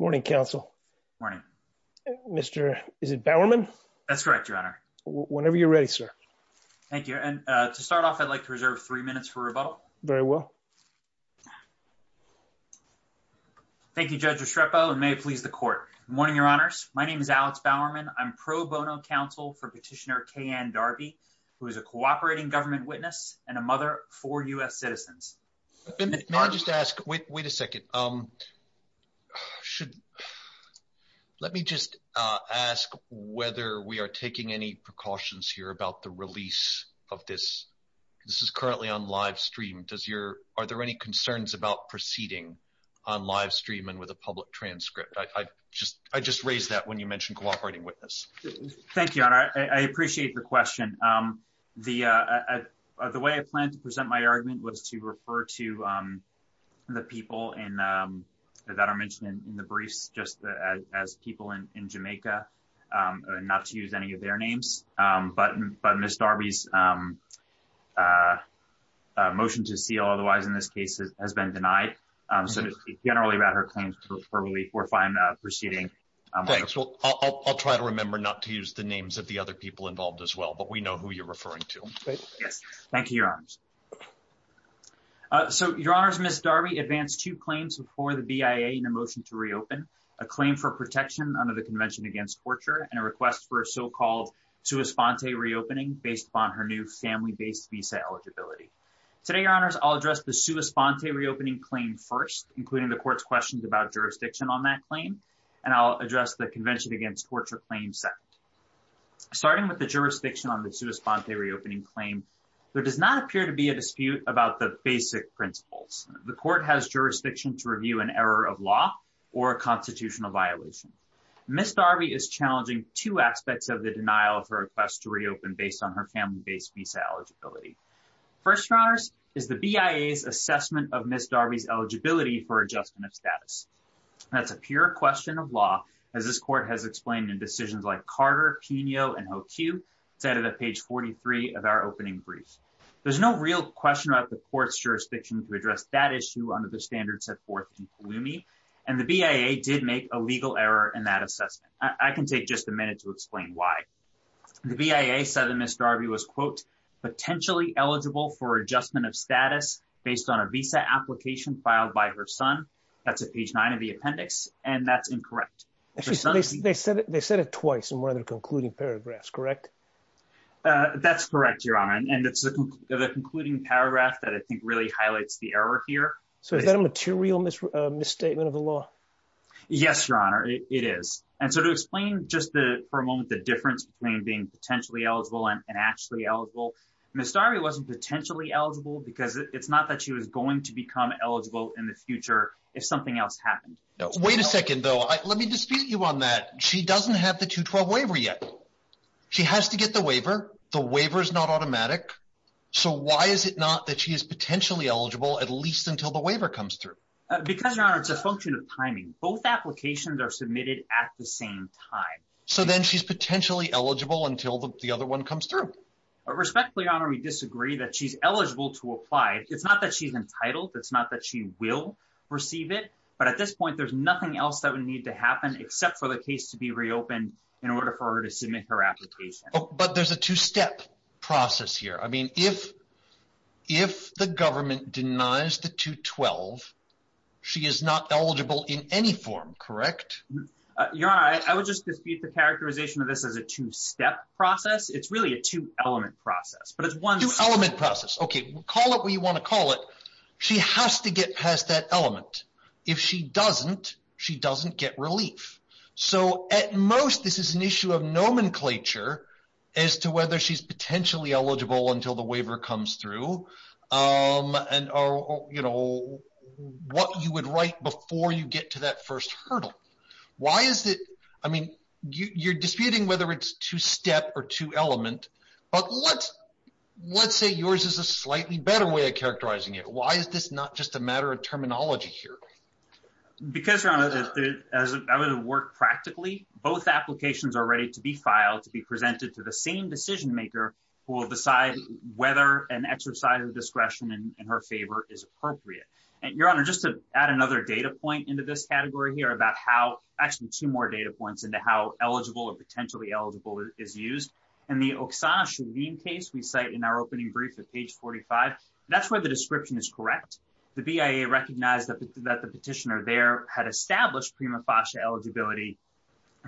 morning counsel morning mr is it bowerman that's correct your honor whenever you're ready sir thank you and uh to start off i'd like to reserve three minutes for rebuttal very well thank you judge restrepo and may it please the court morning your honors my name is alex bowerman i'm pro bono counsel for petitioner k and darby who is a cooperating government witness and a mother for u.s citizens may i just ask wait wait a second um should let me just uh ask whether we are taking any precautions here about the release of this this is currently on live stream does your are there any concerns about proceeding on live stream and with a public transcript i i just i just raised that when you mentioned cooperating witness thank you honor i appreciate the question um the uh the way i planned to present my argument was to refer to um the people in um that are mentioned in the briefs just as people in in jamaica um not to use any of their names um but but miss darby's um uh motion to seal otherwise in this case has been denied um so to speak generally about her claims for relief we're fine uh proceeding thanks well i'll try to remember not to use the names of the other people involved as well but we know who you're referring to yes thank you your honors uh so your honors miss darby advanced two claims before the bia in a motion to reopen a claim for protection under the convention against torture and a request for a so-called sua sponte reopening based upon her new family-based visa eligibility today your honors i'll address the sua sponte reopening claim first including the court's questions about jurisdiction on that claim and i'll address the convention against torture claim second starting with the jurisdiction on the sua sponte reopening claim there does not appear to be a dispute about the basic principles the court has jurisdiction to review an error of law or a constitutional violation miss darby is challenging two aspects of the denial of her request to reopen based on her family-based visa eligibility first honors is the bia's eligibility for adjustment of status that's a pure question of law as this court has explained in decisions like carter pino and hoq it's out of the page 43 of our opening brief there's no real question about the court's jurisdiction to address that issue under the standards set forth in pulumi and the bia did make a legal error in that assessment i can take just a minute to explain why the bia said that miss darby was quote potentially eligible for adjustment of status based on a visa application filed by her son that's at page nine of the appendix and that's incorrect actually so they said they said it twice in one of the concluding paragraphs correct uh that's correct your honor and it's the concluding paragraph that i think really highlights the error here so is that a material misstatement of the law yes your honor it is and so to explain just the for a moment the difference between being potentially eligible and actually eligible miss darby wasn't potentially eligible because it's not that she was going to become eligible in the future if something else happened no wait a second though let me dispute you on that she doesn't have the 212 waiver yet she has to get the waiver the waiver is not automatic so why is it not that she is potentially eligible at least until the waiver comes through because your honor it's a function of timing both applications are submitted at the same time so then she's potentially eligible until the other one comes through respectfully your honor we disagree that she's eligible to apply it's not that she's entitled it's not that she will receive it but at this point there's nothing else that would need to happen except for the case to be reopened in order for her to submit her application but there's a two-step process here i mean if if the government denies the 212 she is not eligible in any form correct your honor i would just dispute the characterization of this as a two-step process it's really a two element process but it's one element process okay call it what you want to call it she has to get past that element if she doesn't she doesn't get relief so at most this is an issue of nomenclature as to whether she's potentially eligible until the waiver comes through um and or you know what you would write before you get to that first hurdle why is it i mean you you're disputing whether it's two step or two element but let's let's say yours is a slightly better way of characterizing it why is this not just a matter of terminology here because your honor as i would have worked practically both applications are ready to be filed to be presented to the same decision maker who will decide whether an exercise of discretion in her favor is appropriate and your honor just to add another data point into this category here about how actually two more data points into how eligible or potentially eligible is used and the oksana shaleen case we cite in our opening brief at page 45 that's where the description is correct the bia recognized that the petitioner there had established prima facie eligibility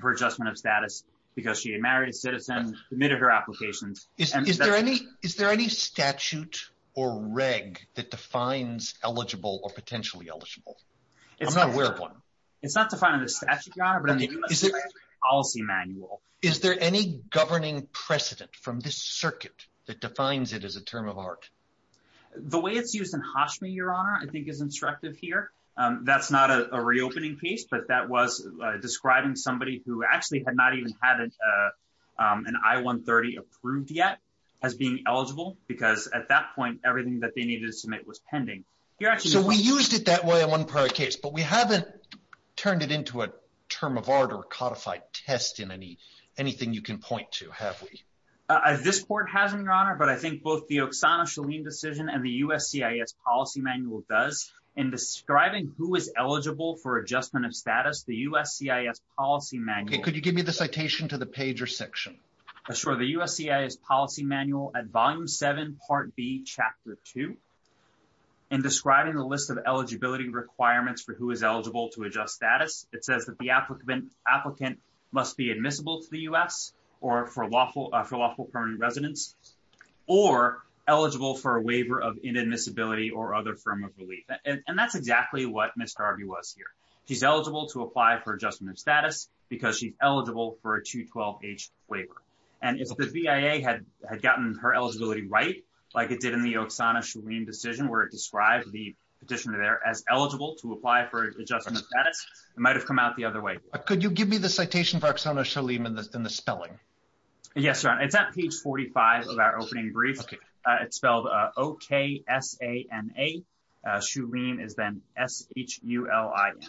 for adjustment of status because she had married a citizen admitted her applications is there any is there any statute or reg that defines eligible or potentially eligible it's not aware of one it's not defining the statute your honor but on the policy manual is there any governing precedent from this circuit that defines it as a term of art the way it's used in hashmi your honor i think is instructive here um that's not a reopening piece but that was describing somebody who actually had not even had an i-130 approved yet as being eligible because at that point everything that they needed to submit was but we haven't turned it into a term of order codified test in any anything you can point to have we as this court has in your honor but i think both the oksana shaleen decision and the uscis policy manual does in describing who is eligible for adjustment of status the uscis policy manual could you give me the citation to the page or section sure the uscis policy manual at volume seven part b chapter two in describing the list of eligibility requirements for who is eligible to adjust status it says that the applicant applicant must be admissible to the u.s or for lawful for lawful permanent residence or eligible for a waiver of inadmissibility or other form of relief and that's exactly what mr rb was here she's eligible to apply for adjustment of status because she's eligible for a 212 h waiver and if the via had had gotten her eligibility right like it did in the oksana shaleen decision where it described the petitioner there as eligible to apply for adjustment of status it might have come out the other way could you give me the citation for oksana shaleen in the in the spelling yes sir it's at page 45 of our opening it's spelled uh o-k-s-a-n-a uh shaleen is then s-h-u-l-i-n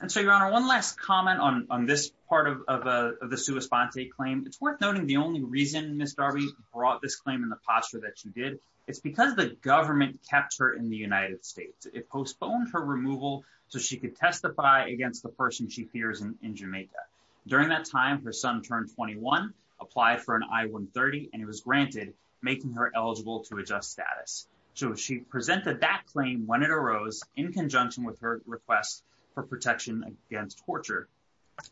and so your honor one last comment on on this part of of uh the sua sponte claim it's worth noting the only reason miss darby brought this claim in the posture that she did it's because the government kept her in the united states it postponed her removal so she could testify against the person she fears in jamaica during that time her son turned 21 applied for an i-130 and it was granted making her eligible to adjust status so she presented that claim when it arose in conjunction with her request for protection against torture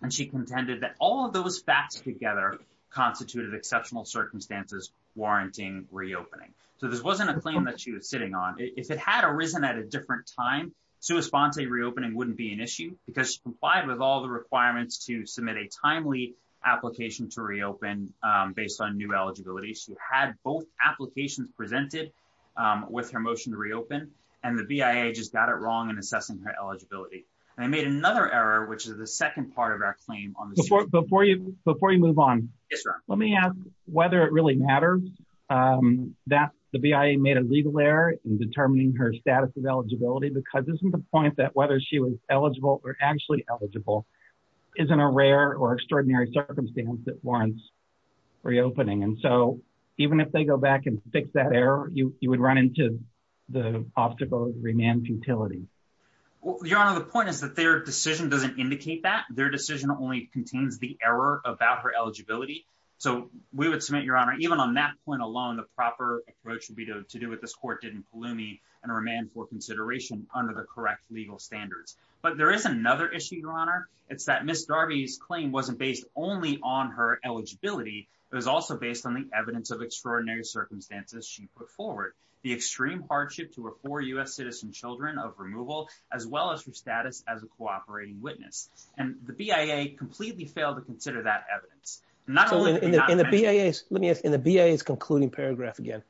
and she contended that all of those facts together constituted exceptional circumstances warranting reopening so this wasn't a claim that she was sitting on if it had arisen at a different time sua sponte reopening wouldn't be an issue because she complied with all the requirements to submit a timely application to reopen um based on new eligibility she had both applications presented um with her motion to reopen and the bia just got it wrong in assessing her eligibility and i made another error which is the second part of our claim on before you before you move on yes sir let me ask whether it really matters um that the bia made a legal error in determining her status of eligibility because this is the point that whether she was eligible or actually eligible isn't a rare or extraordinary circumstance that warrants reopening and so even if they go back and fix that error you you would run into the obstacle of remand futility your honor the point is that their decision doesn't indicate that their decision only contains the error about her eligibility so we would submit your honor even on that point alone the proper approach would be to do what this court did in under the correct legal standards but there is another issue your honor it's that miss darby's claim wasn't based only on her eligibility it was also based on the evidence of extraordinary circumstances she put forward the extreme hardship to her four u.s citizen children of removal as well as her status as a cooperating witness and the bia completely failed to consider that evidence not only in the bia let me ask in the bia is concluding paragraph again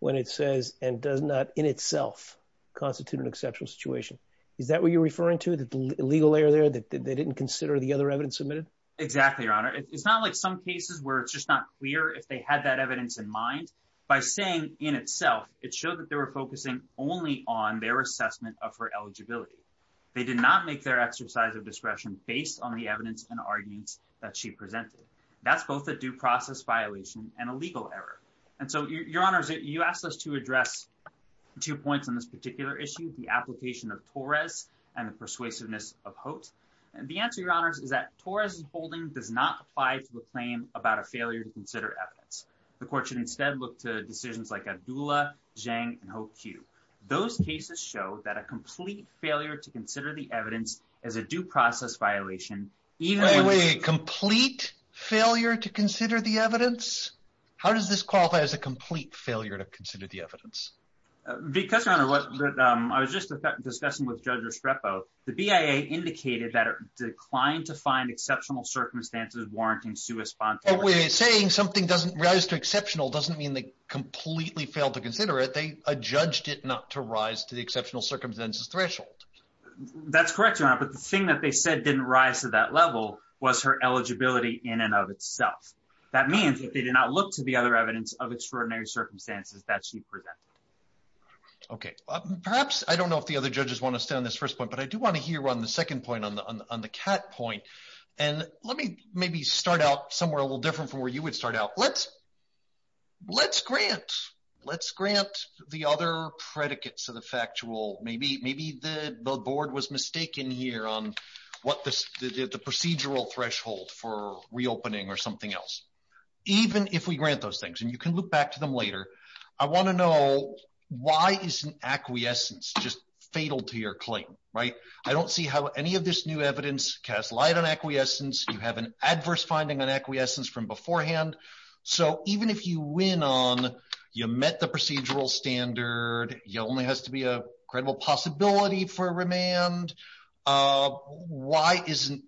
when it says and does not in itself constitute an exceptional situation is that what you're referring to the legal error there that they didn't consider the other evidence submitted exactly your honor it's not like some cases where it's just not clear if they had that evidence in mind by saying in itself it showed that they were focusing only on their assessment of her eligibility they did not make their exercise of discretion based on the evidence and arguments that she presented that's both a due process violation and a legal error and so your honors you asked us to address two points on this particular issue the application of torres and the persuasiveness of hope and the answer your honors is that torres's holding does not apply to the claim about a failure to consider evidence the court should instead look to decisions like abdullah jang and hope q those cases show that a complete failure to consider the evidence as a due process violation even complete failure to consider the evidence how does this qualify as a complete failure to consider the evidence because your honor what um i was just discussing with judge estrepo the bia indicated that it declined to find exceptional circumstances warranting sui sponsor we're saying something doesn't rise to exceptional doesn't mean they completely failed to consider it they judged it not to rise to the exceptional circumstances threshold that's correct your honor but the thing that they said didn't rise to that level was her eligibility in and of itself that means that they did not look to the other evidence of extraordinary circumstances that she presented okay perhaps i don't know if the other judges want to stay on this first point but i do want to hear on the second point on the on the cat point and let me maybe start out somewhere a little different from where you would start out let's let's grant let's grant the other predicates of the factual maybe maybe the board was mistaken here on what the the procedural threshold for reopening or something else even if we grant those things and you can look back to them later i want to know why isn't acquiescence just fatal to your claim right i don't see how any of this new evidence casts light on acquiescence you have an adverse finding on acquiescence from beforehand so even if you win on you met the procedural standard you only has to be a credible possibility for remand uh why isn't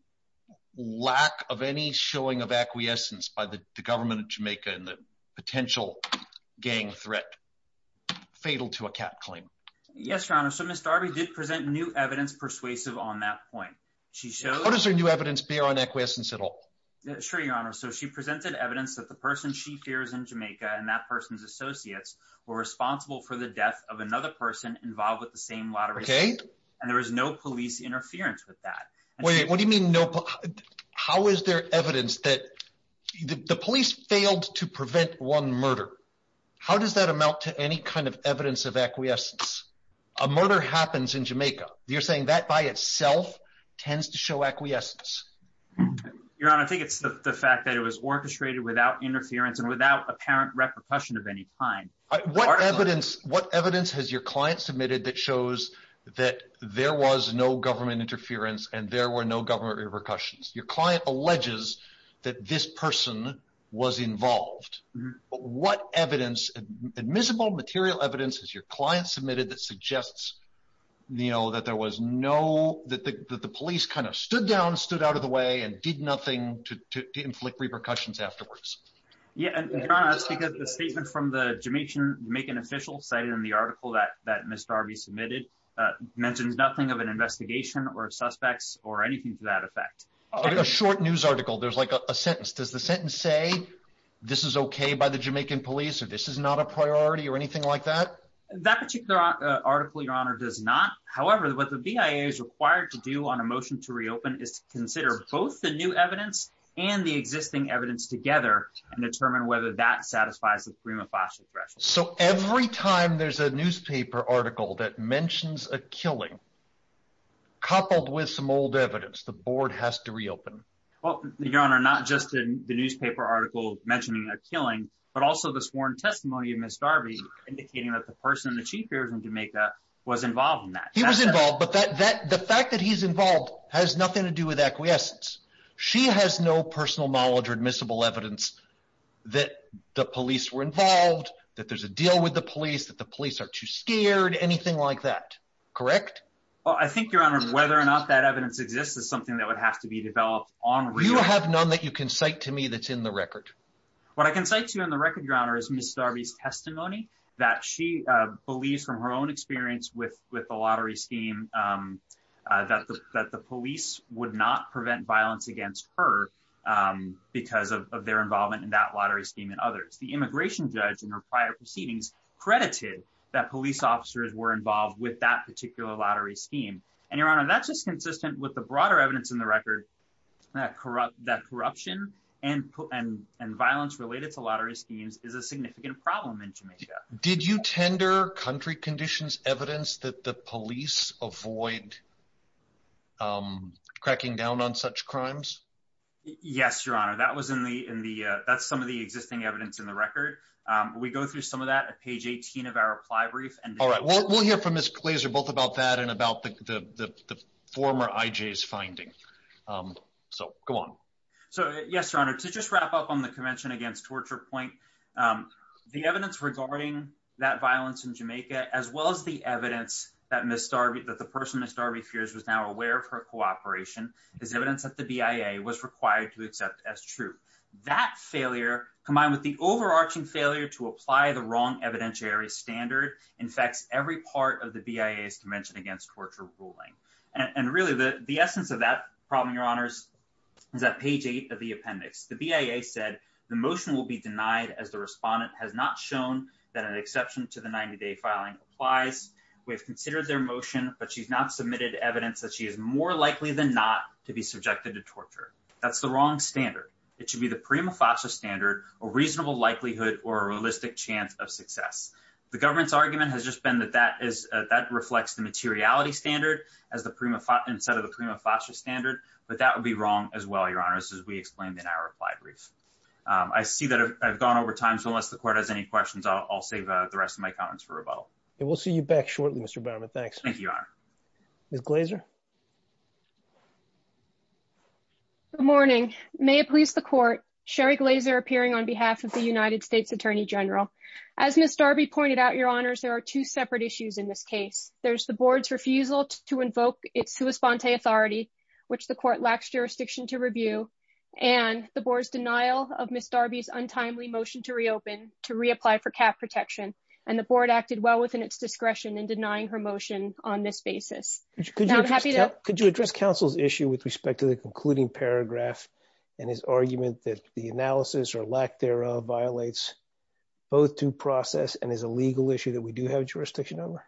lack of any showing of acquiescence by the government of jamaica and the potential gang threat fatal to a cat claim yes your honor so miss darby did present new evidence persuasive on that point she showed what is her new evidence bear on acquiescence at all sure your honor so she presented evidence that the person she fears in jamaica and that person's associates were responsible for the death of another person involved with the same lottery and there was no police interference with that wait what do you mean no how is there evidence that the police failed to prevent one murder how does that amount to any kind of evidence of acquiescence a murder happens in jamaica you're saying that by itself tends to show acquiescence your honor i think it's the fact that it was orchestrated without interference and without apparent repercussion of any kind what evidence what evidence has your client submitted that shows that there was no government interference and there were no government repercussions your client alleges that this person was involved what evidence admissible material evidence has your client submitted that suggests you know that there was no that the police kind of stood down stood out of the way and did nothing to to inflict repercussions afterwards yeah and that's because the statement from the jamaican jamaican official cited in the article that that mr rb submitted mentions nothing of an investigation or suspects or anything to that effect a short news article there's like a sentence does the sentence say this is okay by the jamaican police or this is not a priority or anything like that that particular article your honor does not however what the bia is required to do on a motion to reopen is to consider both the new evidence and the existing evidence together and determine whether that satisfies the prima facie threshold so every time there's a newspaper article that mentions a killing coupled with some old evidence the board has to reopen well your honor not just in the newspaper article mentioning a killing but also the sworn testimony of miss darby indicating that the person the chief here in jamaica was involved in that he was involved but that that the fact that he's involved has nothing to do with acquiescence she has no personal knowledge or admissible evidence that the police were involved that there's a deal with the police that the police are too scared anything like that correct well i think your honor whether or not that evidence exists is something that would have to be developed on you have none that you can cite to me that's in the record what i can say to you on the record your honor is miss darby's testimony that she uh believes from her own experience with with the lottery scheme um uh that the that the police would not scheme and others the immigration judge in her prior proceedings credited that police officers were involved with that particular lottery scheme and your honor that's just consistent with the broader evidence in the record that corrupt that corruption and and and violence related to lottery schemes is a significant problem in jamaica did you tender country conditions evidence that the police avoid um cracking down on such crimes yes your honor that was in the in the uh that's some of the existing evidence in the record um we go through some of that at page 18 of our reply brief and all right we'll hear from miss plazer both about that and about the the former ij's finding um so go on so yes your honor to just wrap up on the convention against torture point um the evidence regarding that violence in jamaica as well as the evidence that miss darby that the person miss darby fears was now aware of her is evidence that the bia was required to accept as true that failure combined with the overarching failure to apply the wrong evidentiary standard infects every part of the bia's convention against torture ruling and really the the essence of that problem your honors is that page eight of the appendix the bia said the motion will be denied as the respondent has not shown that an exception to the 90-day filing applies we have considered their motion but she's not submitted evidence that she is more likely than not to be subjected to torture that's the wrong standard it should be the prima facie standard a reasonable likelihood or a realistic chance of success the government's argument has just been that that is that reflects the materiality standard as the prima instead of the prima facie standard but that would be wrong as well your honors as we explained in our reply brief um i see that i've gone over time so unless the court has any questions i'll save the rest of my comments for rebuttal and we'll see you back shortly mr barman thanks thank you your honor miss glazer good morning may it please the court sherry glazer appearing on behalf of the united states attorney general as miss darby pointed out your honors there are two separate issues in this case there's the board's refusal to invoke its sua sponte authority which the court lacks jurisdiction to review and the board's denial of miss darby's untimely motion to reopen to reapply for cap protection and the board acted well within its discretion in denying her motion on this basis could you address counsel's issue with respect to the concluding paragraph and his argument that the analysis or lack thereof violates both to process and is a legal issue that we do have jurisdiction over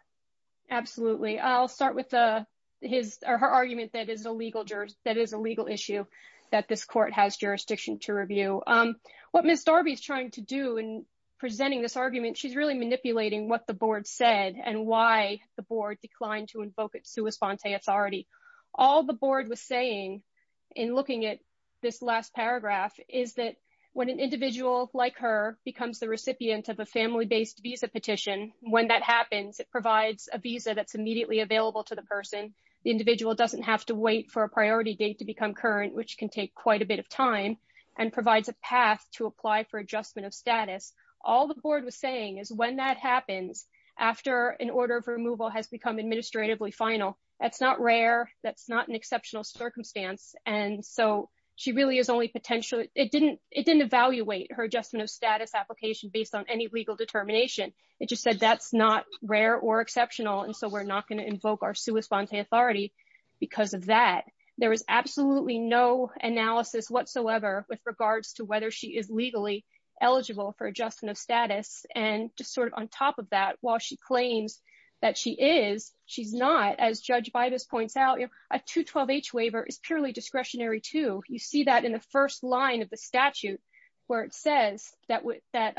absolutely i'll start with uh his or her argument that is a legal juror that is a legal issue that this court has jurisdiction to review um what miss darby's trying to do in presenting this argument she's really manipulating what the board said and why the board declined to invoke its sua sponte authority all the board was saying in looking at this last paragraph is that when an individual like her becomes the recipient of a family-based visa petition when that happens it provides a visa that's immediately available to the person the individual doesn't have to wait for a priority date to become current which can take quite a bit of time and provides a path to apply for adjustment of status all the board was saying is when that happens after an order of removal has become administratively final that's not rare that's not an exceptional circumstance and so she really is only potentially it didn't it didn't evaluate her adjustment of status application based on any legal determination it just said that's not rare or exceptional and so we're not going to invoke our sua sponte authority because of that there was absolutely no analysis whatsoever with regards to whether she is legally eligible for adjustment of status and just sort of on top of that while she claims that she is she's not as judge by this points out a 212 h waiver is purely discretionary too you see that in the first line of the statute where it says that with that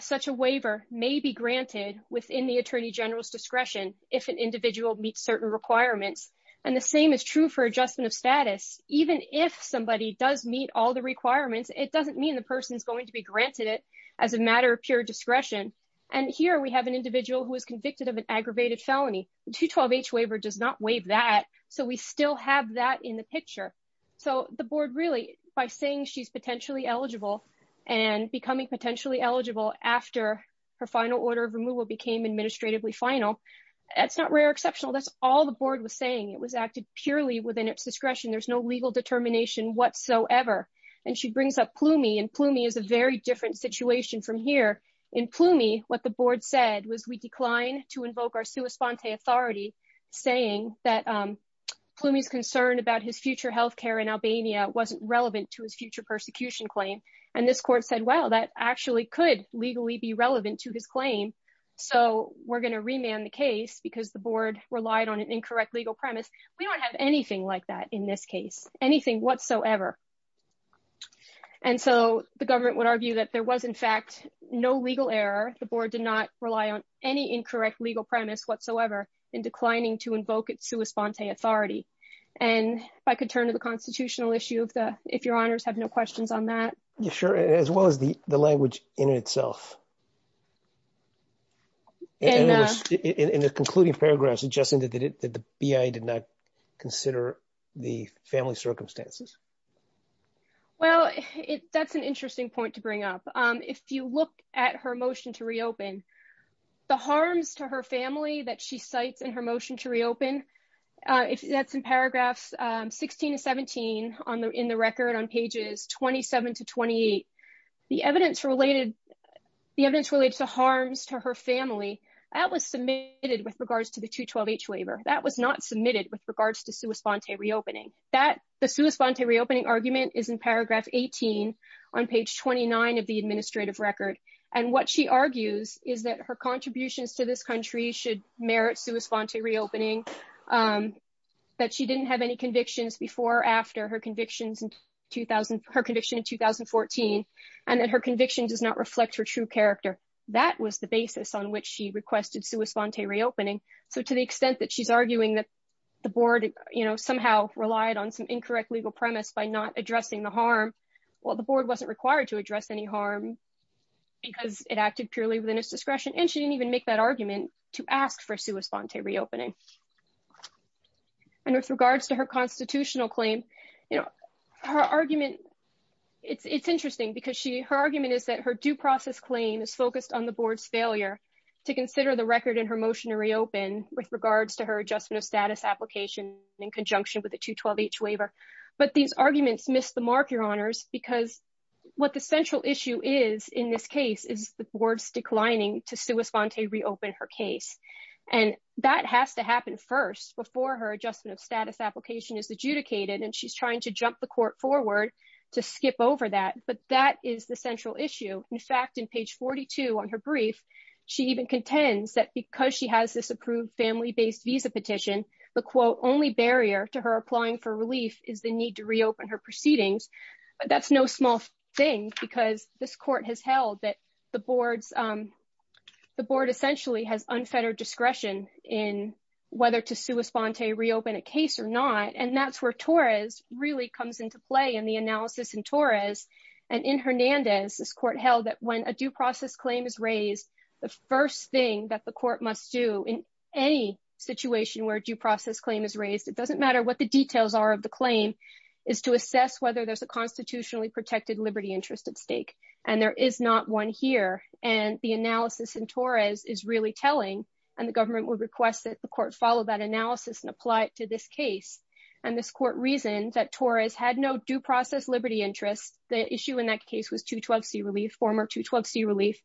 such a waiver may be granted within the attorney general's discretion if an individual meets certain requirements and the same is true for adjustment of status even if somebody does meet all the requirements it doesn't mean the person's to be granted it as a matter of pure discretion and here we have an individual who is convicted of an aggravated felony 212 h waiver does not waive that so we still have that in the picture so the board really by saying she's potentially eligible and becoming potentially eligible after her final order of removal became administratively final that's not rare exceptional that's all the board was saying it was acted purely within its discretion there's no legal determination whatsoever and she brings up plumey and plumey is a very different situation from here in plumey what the board said was we decline to invoke our sua sponte authority saying that um plumey's concern about his future health care in albania wasn't relevant to his future persecution claim and this court said well that actually could legally be relevant to his claim so we're going to remand the case because the board relied on an incorrect legal premise we don't have anything like that in this case anything whatsoever and so the government would argue that there was in fact no legal error the board did not rely on any incorrect legal premise whatsoever in declining to invoke its sua sponte authority and if i could turn to the constitutional issue of the if your honors have no questions on that you're sure as well as the the language in itself and in the concluding paragraph suggesting that the bia did not consider the family circumstances well it that's an interesting point to bring up um if you look at her motion to reopen the harms to her family that she cites in her motion to reopen uh if that's in paragraphs um on the in the record on pages 27 to 28 the evidence related the evidence relates to harms to her family that was submitted with regards to the 212 h waiver that was not submitted with regards to sua sponte reopening that the sua sponte reopening argument is in paragraph 18 on page 29 of the administrative record and what she argues is that her contributions to this merit sua sponte reopening um that she didn't have any convictions before or after her convictions in 2000 her conviction in 2014 and that her conviction does not reflect her true character that was the basis on which she requested sua sponte reopening so to the extent that she's arguing that the board you know somehow relied on some incorrect legal premise by not addressing the harm well the board wasn't required to address any harm because it acted purely within its argument to ask for sua sponte reopening and with regards to her constitutional claim you know her argument it's it's interesting because she her argument is that her due process claim is focused on the board's failure to consider the record in her motion to reopen with regards to her adjustment of status application in conjunction with the 212 h waiver but these arguments missed the mark your honors because what the central issue is in this case is the board's declining to sua sponte reopen her case and that has to happen first before her adjustment of status application is adjudicated and she's trying to jump the court forward to skip over that but that is the central issue in fact in page 42 on her brief she even contends that because she has this approved family-based visa petition the quote only barrier to her applying for relief is the need to reopen her proceedings but that's no small thing because this court has held that the board's um the board essentially has unfettered discretion in whether to sua sponte reopen a case or not and that's where torres really comes into play in the analysis in torres and in hernandez this court held that when a due process claim is raised the first thing that the court must do in any situation where due process claim is raised it doesn't matter what the details are of the claim is to assess whether there's a constitutionally protected liberty interest at stake and there is not one here and the analysis in torres is really telling and the government would request that the court follow that analysis and apply it to this case and this court reasoned that torres had no due process liberty interest the issue in that case was 212c relief former 212c relief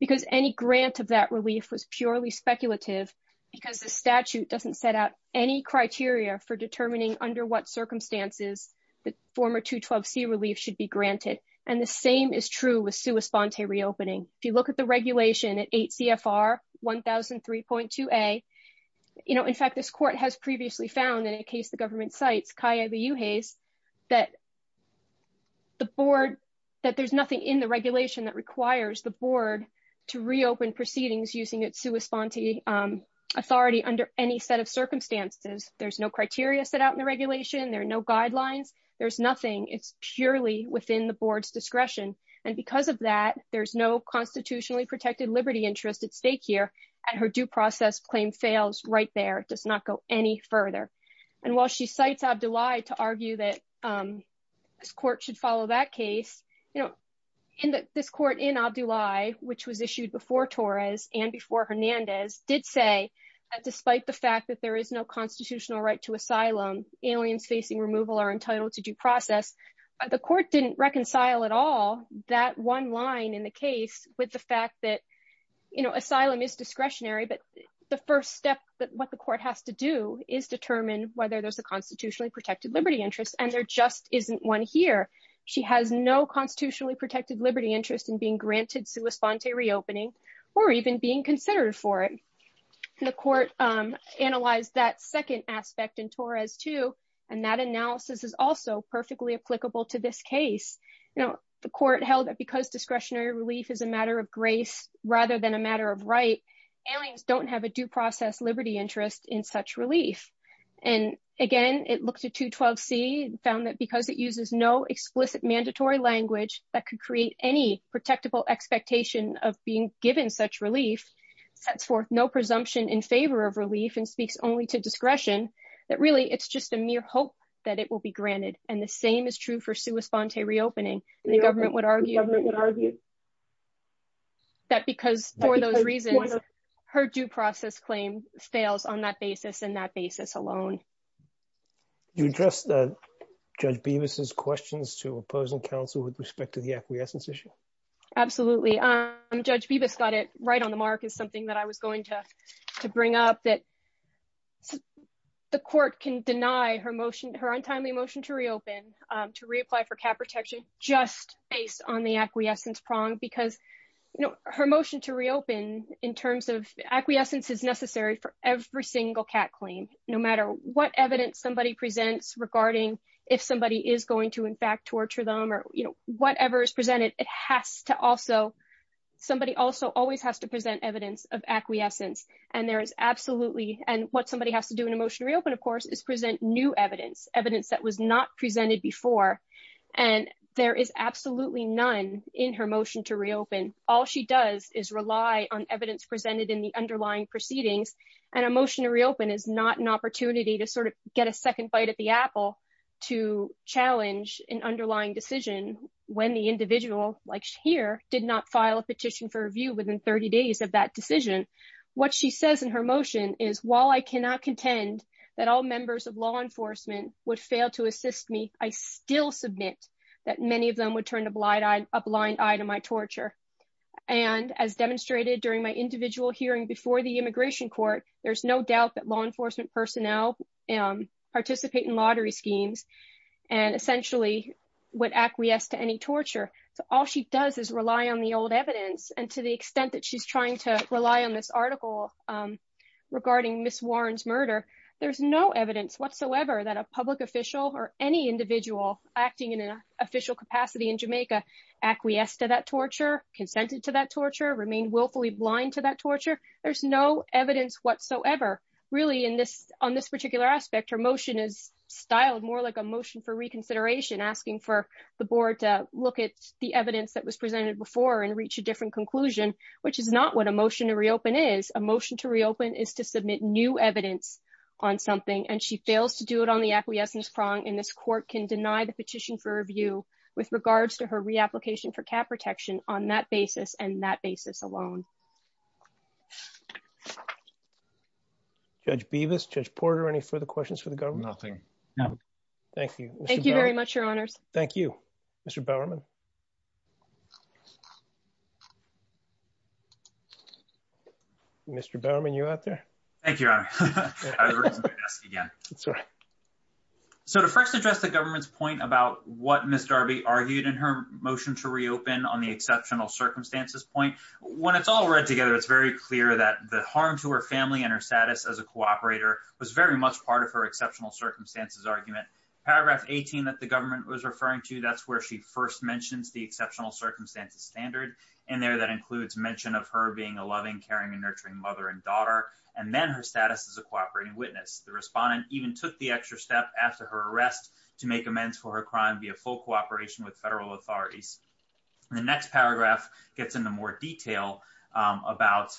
because any grant of that relief was purely speculative because the statute doesn't set out any criteria for determining under what circumstances the former 212c relief should be granted and the same is true with sua sponte reopening if you look at the regulation at 8 cfr 1003.2a you know in fact this court has previously found in a case the government cites kaya the uhays that the board that there's nothing in the regulation that requires the board to reopen proceedings using its sua sponte um authority under any set of circumstances there's criteria set out in the regulation there are no guidelines there's nothing it's purely within the board's discretion and because of that there's no constitutionally protected liberty interest at stake here and her due process claim fails right there it does not go any further and while she cites abdullai to argue that um this court should follow that case you know in this court in abdullai which was issued before torres and before hernandez did say that despite the fact that there is no constitutional right to asylum aliens facing removal are entitled to due process the court didn't reconcile at all that one line in the case with the fact that you know asylum is discretionary but the first step that what the court has to do is determine whether there's a constitutionally protected liberty interest and there just isn't one here she has no constitutionally protected liberty interest in being granted sua sponte reopening or even being considered for it the court um analyzed that second aspect in torres too and that analysis is also perfectly applicable to this case you know the court held that because discretionary relief is a matter of grace rather than a matter of right aliens don't have a due process liberty interest in such relief and again it looked at 212c found that because it uses no explicit mandatory language that could presumption in favor of relief and speaks only to discretion that really it's just a mere hope that it will be granted and the same is true for sua sponte reopening the government would argue that because for those reasons her due process claim fails on that basis in that basis alone you address the judge beavis's questions to opposing counsel with respect to the acquiescence absolutely um judge beavis got it right on the mark is something that i was going to to bring up that the court can deny her motion her untimely motion to reopen um to reapply for cat protection just based on the acquiescence prong because you know her motion to reopen in terms of acquiescence is necessary for every single cat claim no matter what evidence somebody presents regarding if somebody is going to in fact torture them or you know whatever is presented it has to also somebody also always has to present evidence of acquiescence and there is absolutely and what somebody has to do in a motion to reopen of course is present new evidence evidence that was not presented before and there is absolutely none in her motion to reopen all she does is rely on evidence presented in the underlying proceedings and a motion to reopen is not an opportunity to sort of get a second bite at the apple to challenge an underlying decision when the individual like here did not file a petition for review within 30 days of that decision what she says in her motion is while i cannot contend that all members of law enforcement would fail to assist me i still submit that many of them would turn a blind eye a blind eye to my torture and as demonstrated during my individual hearing before the immigration court there's no law enforcement personnel participate in lottery schemes and essentially would acquiesce to any torture so all she does is rely on the old evidence and to the extent that she's trying to rely on this article regarding miss warren's murder there's no evidence whatsoever that a public official or any individual acting in an official capacity in jamaica acquiesced to that torture consented to that torture remain willfully blind to that torture there's no evidence whatsoever on this particular aspect her motion is styled more like a motion for reconsideration asking for the board to look at the evidence that was presented before and reach a different conclusion which is not what a motion to reopen is a motion to reopen is to submit new evidence on something and she fails to do it on the acquiescence prong and this court can deny the petition for review with regards to her reapplication for cat protection on that basis and that basis alone judge beavis judge porter any further questions for the government nothing no thank you thank you very much your honors thank you mr bowerman mr bowerman you out there thank you your honor so to first address the government's point about what miss darby argued in her motion to reopen on the exceptional circumstances point when it's all read together it's very clear that the harm to her family and her status as a cooperator was very much part of her exceptional circumstances argument paragraph 18 that the government was referring to that's where she first mentions the exceptional circumstances standard in there that includes mention of her being a loving caring and nurturing mother and daughter and then her status as a cooperating witness the respondent even took the extra step after her arrest to make amends for her crime be full cooperation with federal authorities the next paragraph gets into more detail about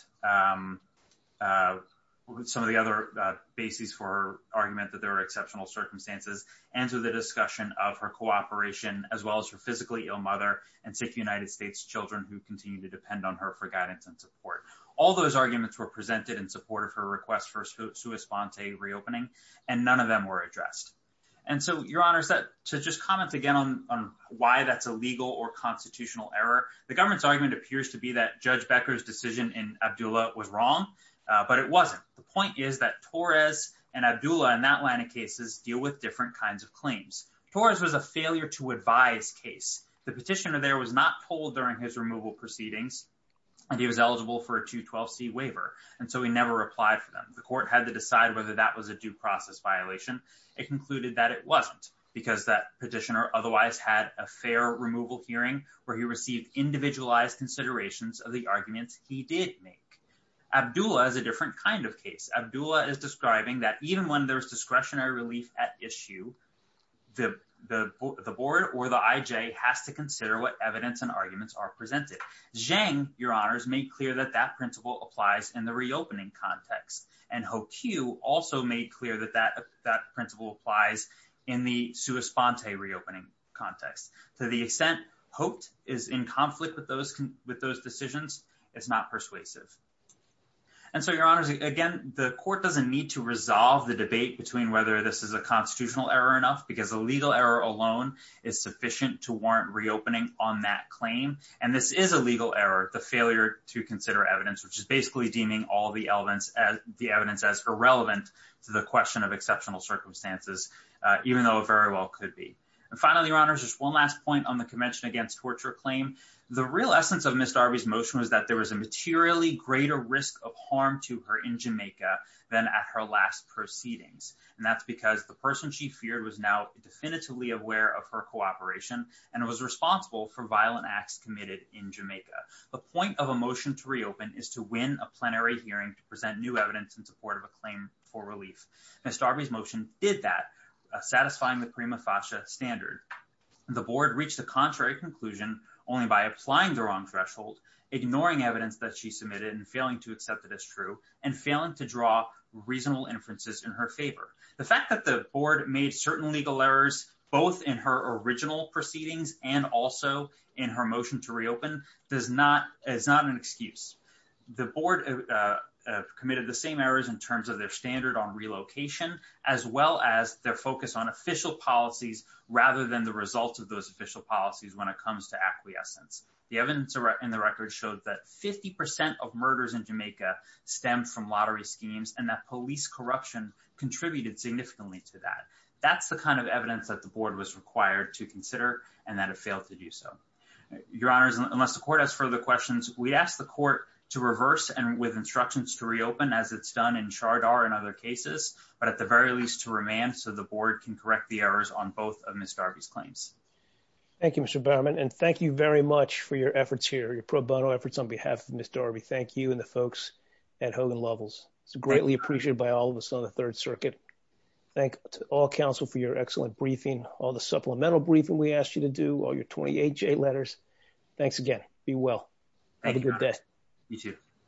some of the other bases for argument that there are exceptional circumstances and to the discussion of her cooperation as well as her physically ill mother and sick united states children who continue to depend on her for guidance and support all those arguments were presented in support of her request for sui sponte reopening and none of them were addressed and so your honor said to just comment again on why that's a legal or constitutional error the government's argument appears to be that judge becker's decision in abdullah was wrong but it wasn't the point is that torres and abdullah in that line of cases deal with different kinds of claims torres was a failure to advise case the petitioner there was not told during his removal proceedings and he was eligible for a 212c waiver and so he never replied for them the court had to decide whether that was a due process violation it concluded that it wasn't because that petitioner otherwise had a fair removal hearing where he received individualized considerations of the arguments he did make abdullah is a different kind of case abdullah is describing that even when there's discretionary relief at issue the the board or the ij has to consider what evidence and arguments are presented jang your honors made clear that that principle applies in the reopening context and hope q also made clear that that that principle applies in the sua sponte reopening context to the extent hoped is in conflict with those with those decisions it's not persuasive and so your honors again the court doesn't need to resolve the debate between whether this is a constitutional error enough because a legal error alone is sufficient to warrant reopening on that claim and this is a legal error the failure to consider evidence which is basically deeming all the elements as the evidence as irrelevant to the question of exceptional circumstances even though it very well could be and finally your honors just one last point on the convention against torture claim the real essence of miss darby's motion was that there was a materially greater risk of harm to her in jamaica than at her last proceedings and that's because the person she feared was now definitively aware of her cooperation and was responsible for violent hearing to present new evidence in support of a claim for relief miss darby's motion did that satisfying the prima facie standard the board reached the contrary conclusion only by applying the wrong threshold ignoring evidence that she submitted and failing to accept that it's true and failing to draw reasonable inferences in her favor the fact that the board made certain legal errors both in her original proceedings and also in her motion to reopen does not it's not an excuse the board uh committed the same errors in terms of their standard on relocation as well as their focus on official policies rather than the result of those official policies when it comes to acquiescence the evidence in the record showed that 50 of murders in jamaica stemmed from lottery schemes and that police corruption contributed significantly to that that's the kind of evidence that the board was required to consider and that it failed to do so your honors unless the court has further questions we ask the court to reverse and with instructions to reopen as it's done in chardar and other cases but at the very least to remand so the board can correct the errors on both of miss darby's claims thank you mr barman and thank you very much for your efforts here your pro bono efforts on behalf of miss darby thank you and the folks at hogan levels it's greatly appreciated by all of us on the third circuit thank to all council for your excellent briefing all the supplemental briefing we asked you to do all your 28 j letters thanks again be well have a good day